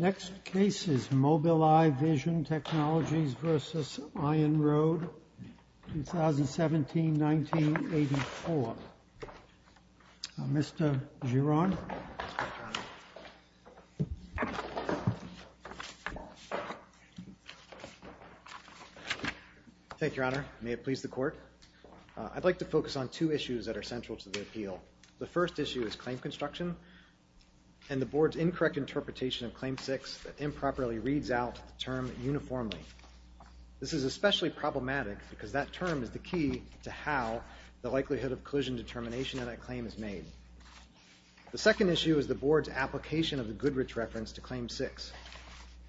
Next case is Mobileye Vision Technologies v. iOnRoad, 2017, 1984. Mr. Giron. Thank you, Your Honor. May it please the Court. I'd like to focus on two issues that are central to the appeal. The first issue is claim construction and the board's incorrect interpretation of Claim 6 that improperly reads out the term uniformly. This is especially problematic because that term is the key to how the likelihood of collision determination of that claim is made. The second issue is the board's application of the Goodrich reference to Claim 6.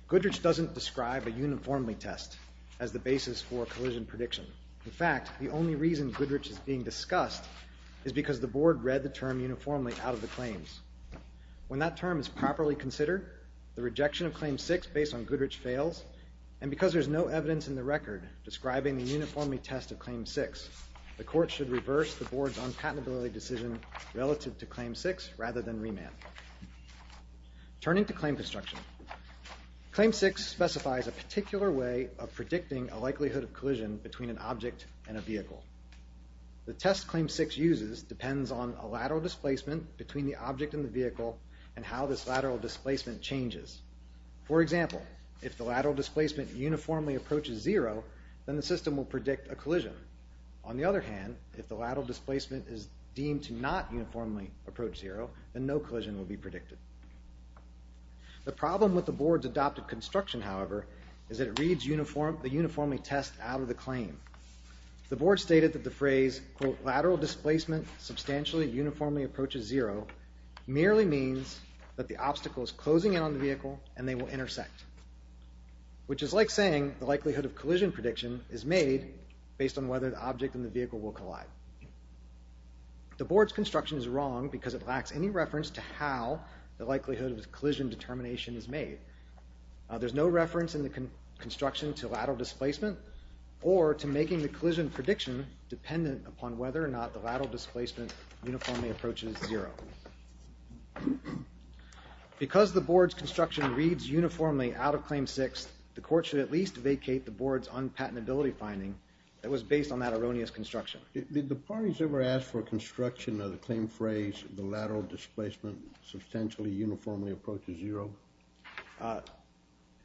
Goodrich doesn't describe a uniformly test as the basis for a collision prediction. In fact, the only reason Goodrich is being discussed is because the board read the term uniformly out of the claims. When that term is properly considered, the rejection of Claim 6 based on Goodrich fails, and because the court should reverse the board's unpatentability decision relative to Claim 6 rather than remand. Turning to claim construction, Claim 6 specifies a particular way of predicting a likelihood of collision between an object and a vehicle. The test Claim 6 uses depends on a lateral displacement between the object and the vehicle and how this lateral displacement changes. For example, if the lateral displacement uniformly approaches zero, then the other hand, if the lateral displacement is deemed to not uniformly approach zero, then no collision will be predicted. The problem with the board's adopted construction, however, is that it reads the uniformly test out of the claim. The board stated that the phrase, quote, lateral displacement substantially uniformly approaches zero merely means that the obstacle is closing in on the vehicle and they will intersect, which is like saying the likelihood of collision prediction is made based on whether the object and the vehicle will collide. The board's construction is wrong because it lacks any reference to how the likelihood of collision determination is made. There's no reference in the construction to lateral displacement or to making the collision prediction dependent upon whether or not the lateral displacement uniformly approaches zero. Because the board's construction reads uniformly out of Claim 6, the court should at least vacate the board's unpatentability finding that was based on that erroneous construction. Did the parties ever ask for construction of the claim phrase, the lateral displacement substantially uniformly approaches zero?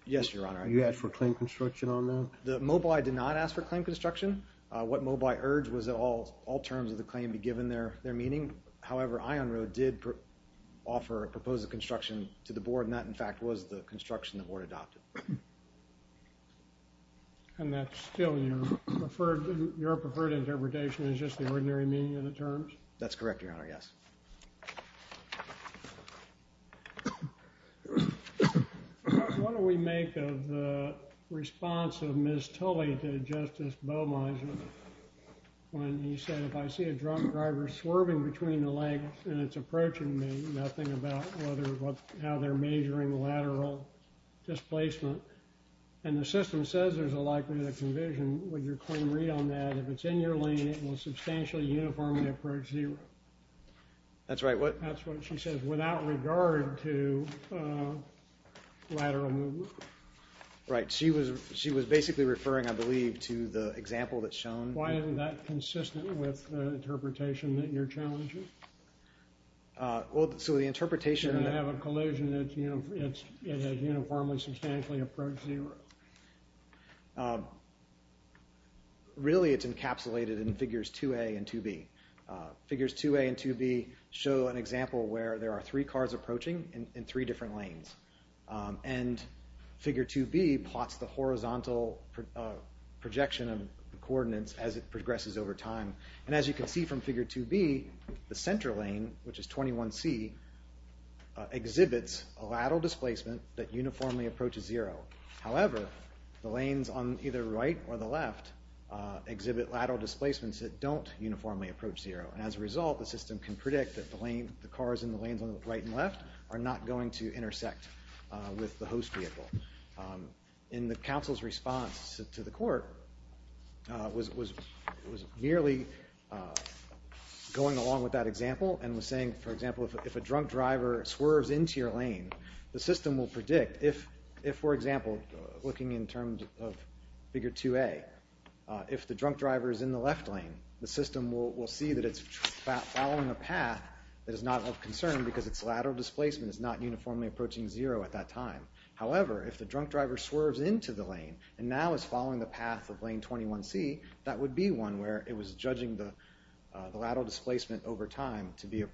Yes, your honor. You asked for claim construction on that? The Mobileye did not ask for claim construction. What Mobileye urged was that all all terms of the claim be given their their meaning. However, Ion Road did offer a proposed construction to the And that's still your preferred, your preferred interpretation is just the ordinary meaning of the terms? That's correct, your honor. Yes. What do we make of the response of Ms. Tully to Justice Bowmeiser when he said if I see a drunk driver swerving between the legs and it's approaching me, nothing about whether what now they're measuring lateral displacement and the system says there's a likelihood of convision. Would your claim read on that? If it's in your lane, it will substantially uniformly approach zero. That's right, what? That's what she says without regard to lateral movement. Right, she was she was basically referring, I believe, to the example that's shown. Why isn't that consistent with the challenges? Well, so the interpretation... You have a collision that's, you know, it's uniformly substantially approach zero. Really, it's encapsulated in figures 2a and 2b. Figures 2a and 2b show an example where there are three cars approaching in three different lanes. And figure 2b plots the horizontal projection of the coordinates as it progresses over time. And as you can see from figure 2b, the center lane, which is 21c, exhibits a lateral displacement that uniformly approaches zero. However, the lanes on either right or the left exhibit lateral displacements that don't uniformly approach zero. As a result, the system can predict that the lane, the cars in the lanes on the right and left are not going to intersect with the host vehicle. In the council's response to the going along with that example and was saying, for example, if a drunk driver swerves into your lane, the system will predict if, for example, looking in terms of figure 2a, if the drunk driver is in the left lane, the system will see that it's following a path that is not of concern because its lateral displacement is not uniformly approaching zero at that time. However, if the drunk driver swerves into the lane and now is following the path of lane 21c, that would be one where it was judging the lateral displacement over time to be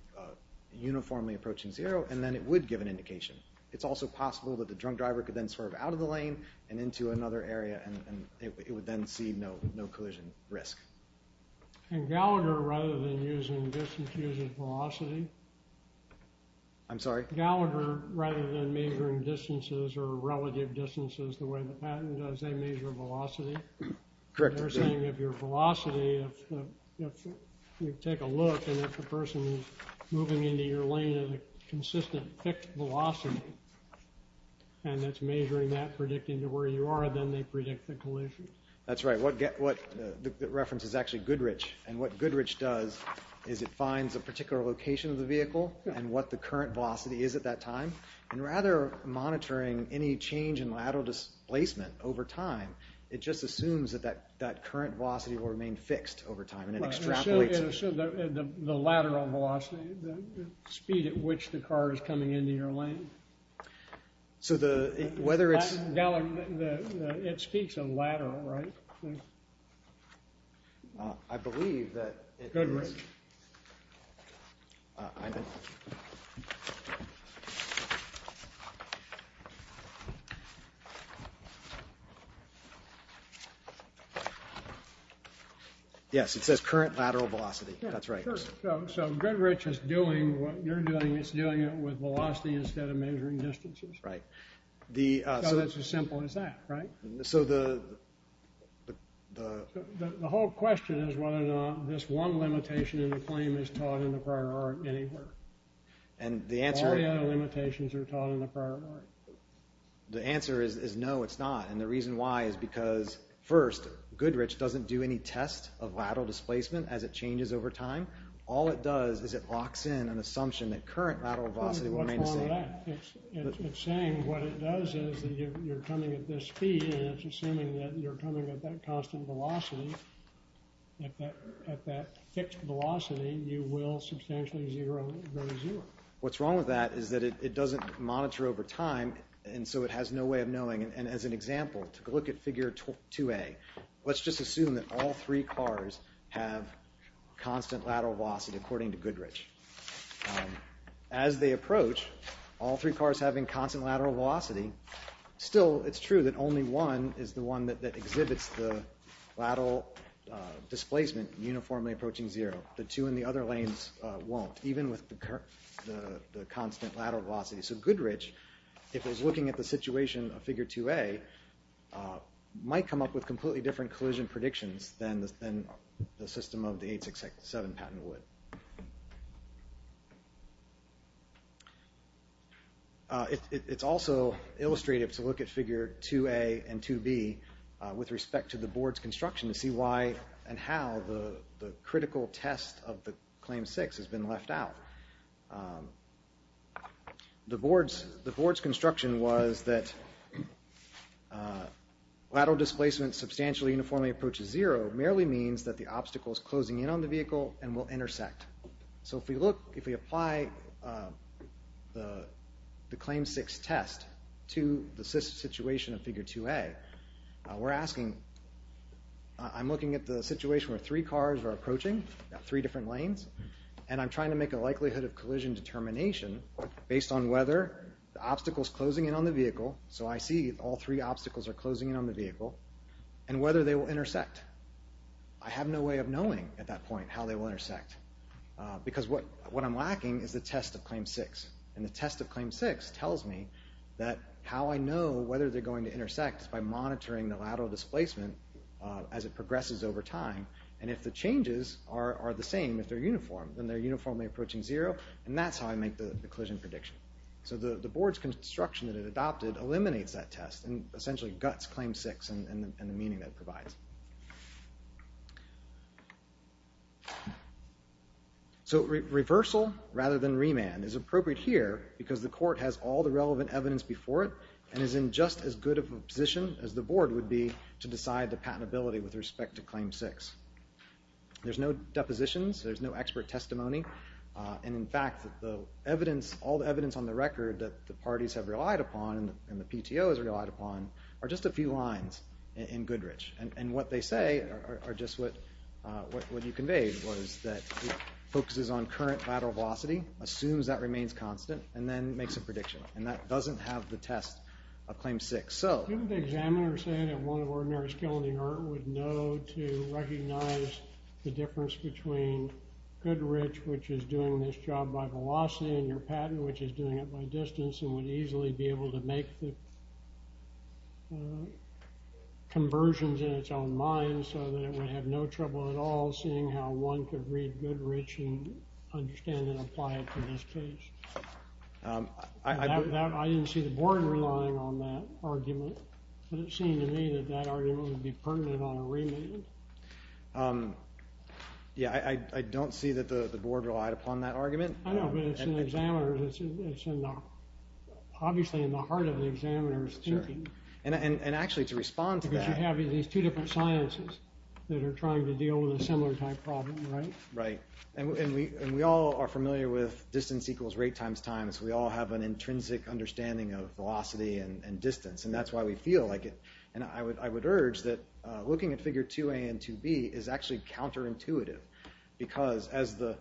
uniformly approaching zero, and then it would give an indication. It's also possible that the drunk driver could then swerve out of the lane and into another area, and it would then see no collision risk. And Gallagher, rather than using distance, uses velocity? I'm sorry? Gallagher, rather than measuring distances or relative distances the way the patent does, they measure velocity? Correct. They're saying if your velocity, if you take a look and if the person is moving into your lane at a consistent fixed velocity, and that's measuring that, predicting to where you are, then they predict the collision. That's right. The reference is actually Goodrich, and what Goodrich does is it finds a particular location of the vehicle, and what the current velocity is at that time, and rather than monitoring any change in lateral displacement over time, it just assumes that that current velocity will remain fixed over time, and it extrapolates. So the lateral velocity, the speed at which the car is coming into your lane. So the, whether it's... Gallagher, it speaks of lateral, right? I believe that... Goodrich. I don't know. Yes, it says current lateral velocity. That's right. So Goodrich is doing what you're doing. It's doing it with velocity instead of measuring distances. Right. So that's as simple as that, right? So the... The whole question is whether or not this one limitation in the claim is taught in the prior art anywhere. And the answer... All the other limitations are taught in the prior art. The answer is no, it's not, and the reason why is because, first, Goodrich doesn't do any test of lateral displacement as it changes over time. All it does is it locks in an assumption that current lateral velocity will remain the same. What's wrong with that? At that fixed velocity, you will substantially zero, very zero. What's wrong with that is that it doesn't monitor over time, and so it has no way of knowing. And as an example, to look at figure 2A, let's just assume that all three cars have constant lateral velocity, according to Goodrich. As they approach, all three cars having constant lateral velocity, still, it's true that only one is the one that exhibits the lateral displacement uniformly approaching zero. The two in the other lanes won't, even with the constant lateral velocity. So Goodrich, if it was looking at the situation of figure 2A, might come up with completely different collision predictions than the system of the 867 patent would. It's also illustrative to look at figure 2A and 2B with respect to the board's construction to see why and how the critical test of the Claim 6 has been left out. The board's construction was that lateral displacement substantially uniformly approaches zero merely means that the obstacle is closing in on the vehicle and will intersect. So if we look, if we apply the Claim 6 test to the situation of figure 2A, we're asking, I'm looking at the situation where three cars are approaching, three different lanes, and I'm trying to make a likelihood of collision determination based on whether the obstacle is closing in on the vehicle, so I see all three obstacles are closing in on the vehicle, and whether they will intersect. I have no way of knowing at that point how they will intersect because what I'm lacking is the test of Claim 6. And the test of Claim 6 tells me that how I know whether they're going to intersect is by monitoring the lateral displacement as it progresses over time. And if the changes are the same, if they're uniform, then they're uniformly approaching zero, and that's how I make the collision prediction. So the board's construction that it adopted eliminates that test and essentially guts Claim 6 and the meaning that it provides. So reversal rather than remand is appropriate here because the court has all the relevant evidence before it and is in just as good of a position as the board would be to decide the patentability with respect to Claim 6. There's no depositions, there's no expert testimony, and in fact all the evidence on the record that the parties have relied upon and the PTO has relied upon are just a few lines in Goodrich. And what they say are just what you conveyed was that it focuses on current lateral velocity, assumes that remains constant, and then makes a prediction. And that doesn't have the test of Claim 6. So... which is doing this job by velocity in your patent, which is doing it by distance and would easily be able to make the conversions in its own mind so that it would have no trouble at all seeing how one could read Goodrich and understand and apply it to this case. I didn't see the board relying on that argument, but it seemed to me that that argument would be pertinent on a remand. Yeah, I don't see that the board relied upon that argument. I know, but it's in the examiner's... obviously in the heart of the examiner's thinking. And actually to respond to that... Because you have these two different sciences that are trying to deal with a similar type problem, right? Right. And we all are familiar with distance equals rate times time, so we all have an intrinsic understanding of velocity and distance, and that's why we feel like it. And I would urge that looking at Figure 2a and 2b is actually counterintuitive because as the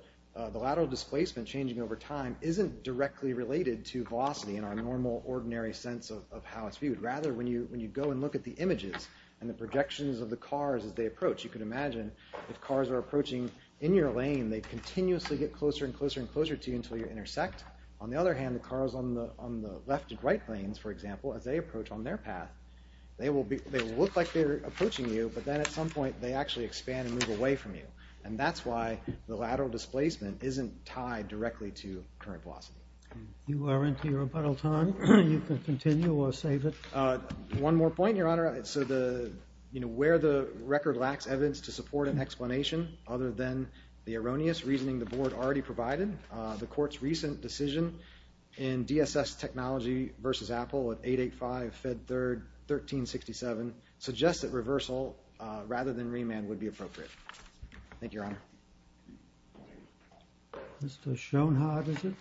lateral displacement changing over time isn't directly related to velocity in our normal, ordinary sense of how it's viewed. Rather, when you go and look at the images and the projections of the cars as they approach, you can imagine if cars are approaching in your lane, they continuously get closer and closer and closer to you until you intersect. On the other hand, the cars on the left and right lanes, for example, as they approach on their path, they will look like they're approaching you, but then at some point they actually expand and move away from you. And that's why the lateral displacement isn't tied directly to current velocity. You are into your rebuttal time. You can continue or save it. One more point, Your Honor. So where the record lacks evidence to support an explanation other than the erroneous reasoning the board already provided, the Court's recent decision in DSS Technology v. Apple at 885 Fed 3rd 1367 suggests that reversal rather than remand would be appropriate. Thank you, Your Honor. Mr. Schoenhardt, is it?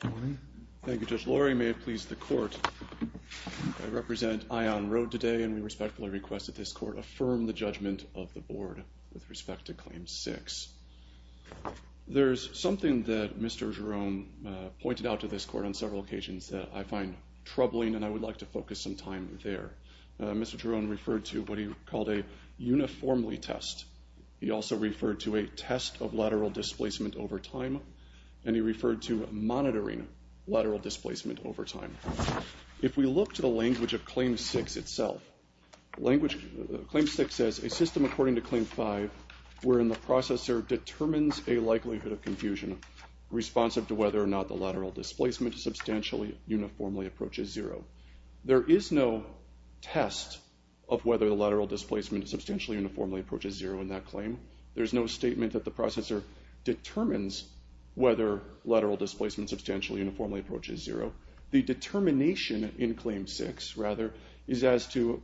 Good morning. Thank you, Judge Lurie. May it please the Court, I represent Ion Road today, and we respectfully request that this Court affirm the judgment of the Board with respect to Claim 6. There's something that Mr. Jerome pointed out to this Court on several occasions that I find troubling, and I would like to focus some time there. Mr. Jerome referred to what he called a uniformly test. He also referred to a test of lateral displacement over time, and he referred to monitoring lateral displacement over time. If we look to the language of Claim 6 itself, Claim 6 says a system according to Claim 5 wherein the processor determines a likelihood of confusion responsive to whether or not the lateral displacement substantially uniformly approaches zero. There is no test of whether the lateral displacement substantially uniformly approaches zero in that claim. There's no statement that the processor determines whether lateral displacement substantially uniformly approaches zero. The determination in Claim 6, rather, is as to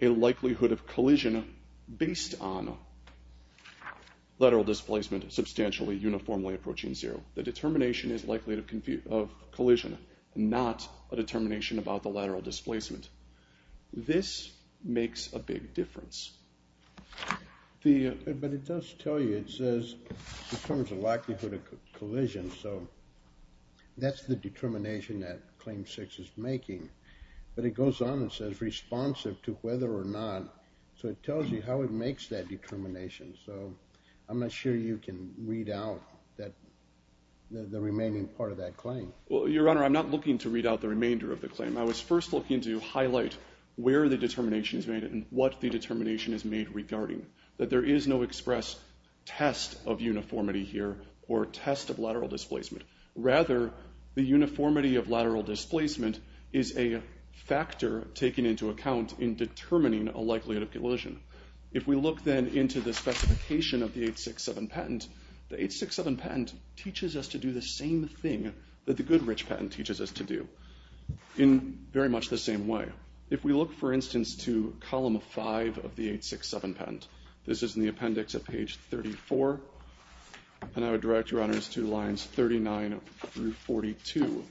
a likelihood of collision based on lateral displacement substantially uniformly approaching zero. The determination is likelihood of collision, not a determination about the lateral displacement. This makes a big difference. But it does tell you, it says it determines the likelihood of collision, so that's the determination that Claim 6 is making. But it goes on and says responsive to whether or not, so it tells you how it makes that determination, so I'm not sure you can read out the remaining part of that claim. Well, Your Honor, I'm not looking to read out the remainder of the claim. I was first looking to highlight where the determination is made and what the determination is made regarding, that there is no express test of uniformity here or test of lateral displacement. Rather, the uniformity of lateral displacement is a factor taken into account in determining a likelihood of collision. If we look, then, into the specification of the 867 patent, the 867 patent teaches us to do the same thing that the Goodrich patent teaches us to do in very much the same way. If we look, for instance, to column 5 of the 867 patent, this is in the appendix at page 34, and I would direct Your Honors to lines 39 through 42.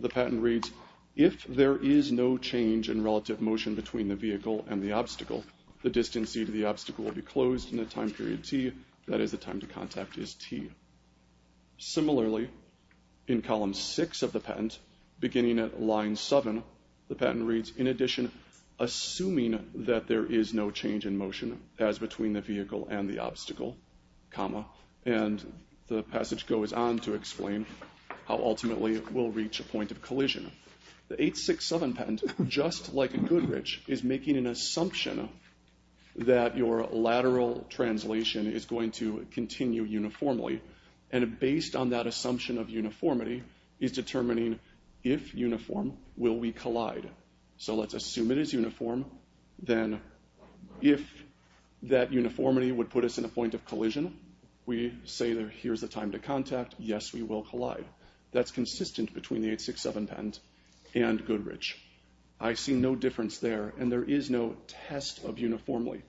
The patent reads, if there is no change in relative motion between the vehicle and the obstacle, the distance e to the obstacle will be closed in a time period t, that is, the time to contact is t. Similarly, in column 6 of the patent, beginning at line 7, the patent reads, in addition, assuming that there is no change in motion, as between the vehicle and the obstacle, and the passage goes on to explain how ultimately we'll reach a point of collision. The 867 patent, just like a Goodrich, is making an assumption that your lateral translation is going to continue uniformly, and based on that assumption of uniformity, is determining if uniform, will we collide. So let's assume it is uniform, then if that uniformity would put us in a point of collision, we say that here's the time to contact, yes, we will collide. That's consistent between the 867 patent and Goodrich. I see no difference there, and there is no test of uniformly.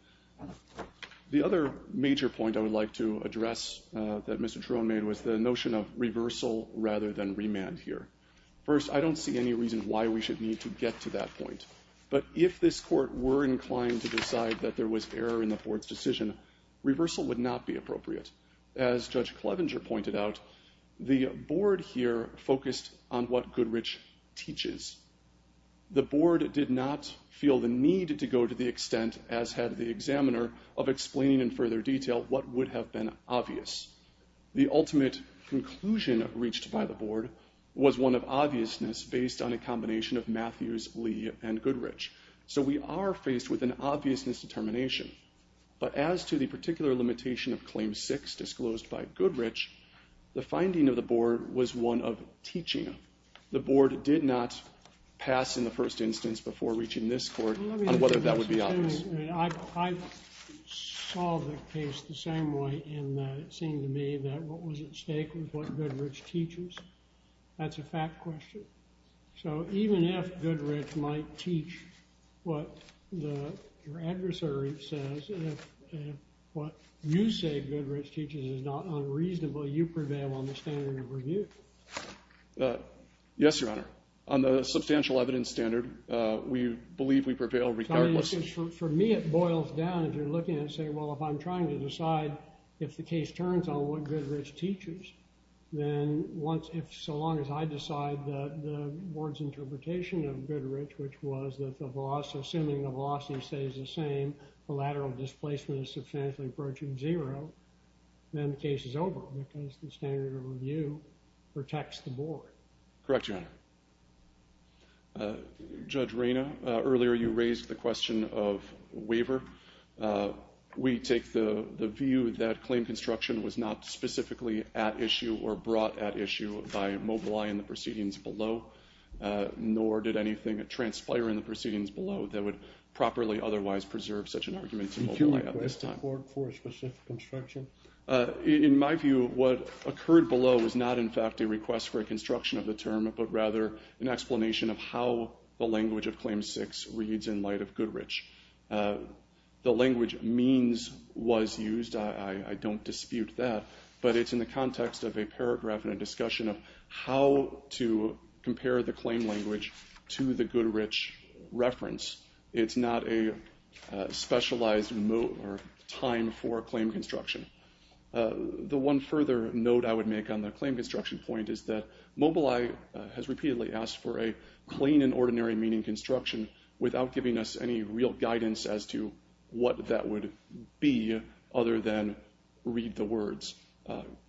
The other major point I would like to address that Mr. Truon made was the notion of reversal rather than remand here. First, I don't see any reason why we should need to get to that point, but if this court were inclined to decide that there was error in the board's decision, reversal would not be appropriate. As Judge Clevenger pointed out, the board here focused on what Goodrich teaches. The board did not feel the need to go to the extent, as had the examiner, of explaining in further detail what would have been obvious. The ultimate conclusion reached by the board was one of obviousness based on a combination of Matthews, Lee, and Goodrich. So we are faced with an obviousness determination. But as to the particular limitation of Claim 6 disclosed by Goodrich, the finding of the board was one of teaching. The board did not pass in the first instance before reaching this court on whether that would be obvious. I saw the case the same way in that it seemed to me that what was at stake was what Goodrich teaches. That's a fact question. So even if Goodrich might teach what your adversary says, if what you say Goodrich teaches is not unreasonable, you prevail on the standard of review. Yes, Your Honor. On the substantial evidence standard, we believe we prevail regardless. For me, it boils down if you're looking and saying, well, if I'm trying to decide if the case turns on what Goodrich teaches, then so long as I decide that the board's interpretation of Goodrich, which was that assuming the velocity stays the same, the lateral displacement is substantially approaching zero, then the case is over because the standard of review protects the board. Correct, Your Honor. Judge Rayna, earlier you raised the question of waiver. We take the view that claim construction was not specifically at issue or brought at issue by Mobileye in the proceedings below, nor did anything transpire in the proceedings below that would properly otherwise preserve such an argument to Mobileye at this time. Did you request the court for a specific instruction? In my view, what occurred below was not, in fact, a request for a construction of the term, but rather an explanation of how the language of Claim 6 reads in light of Goodrich. The language means was used. I don't dispute that, but it's in the context of a paragraph and a discussion of how to compare the claim language to the Goodrich reference. It's not a specialized time for claim construction. The one further note I would make on the claim construction point is that Mobileye has repeatedly asked for a plain and ordinary meaning construction without giving us any real guidance as to what that would be other than read the words.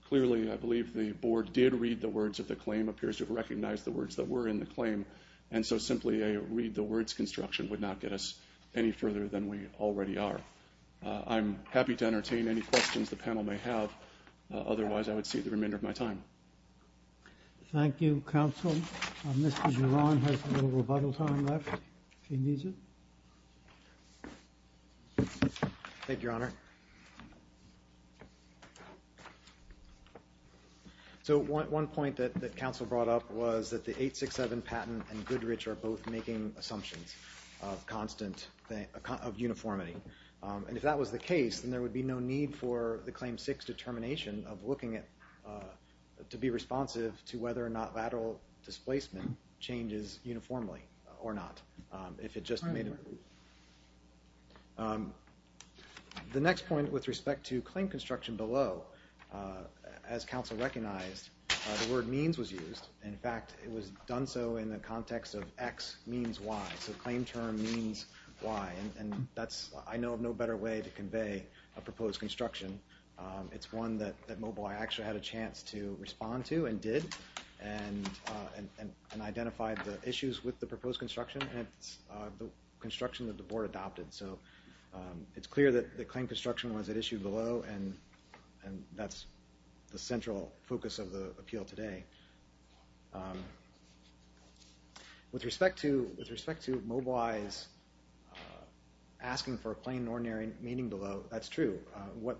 Clearly, I believe the board did read the words of the claim, appears to have recognized the words that were in the claim, and so simply a read-the-words construction would not get us any further than we already are. I'm happy to entertain any questions the panel may have. Otherwise, I would cede the remainder of my time. Thank you, counsel. Mr. Giron has a little rebuttal time left, if he needs it. Thank you, Your Honor. So one point that counsel brought up was that the 867 patent and Goodrich are both making assumptions of uniformity. And if that was the case, then there would be no need for the Claim 6 determination of looking to be responsive to whether or not lateral displacement changes uniformly or not. If it just made it... The next point with respect to claim construction below, as counsel recognized, the word means was used. In fact, it was done so in the context of X means Y, so claim term means Y. And I know of no better way to convey a proposed construction. It's one that Mobile Eye actually had a chance to respond to and did and identified the issues with the proposed construction, and it's the construction that the board adopted. So it's clear that the claim construction was at issue below, and that's the central focus of the appeal today. With respect to Mobile Eye's asking for a plain and ordinary meeting below, that's true. What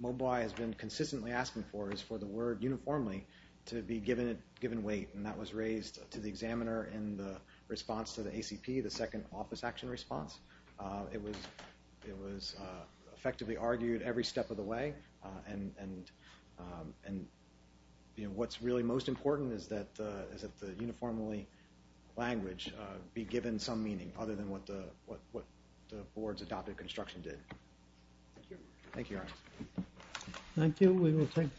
Mobile Eye has been consistently asking for is for the word uniformly to be given weight, and that was raised to the examiner in the response to the ACP, the second office action response. It was effectively argued every step of the way, and what's really most important is that the uniformly language be given some meaning other than what the board's adopted construction did. Thank you. Thank you.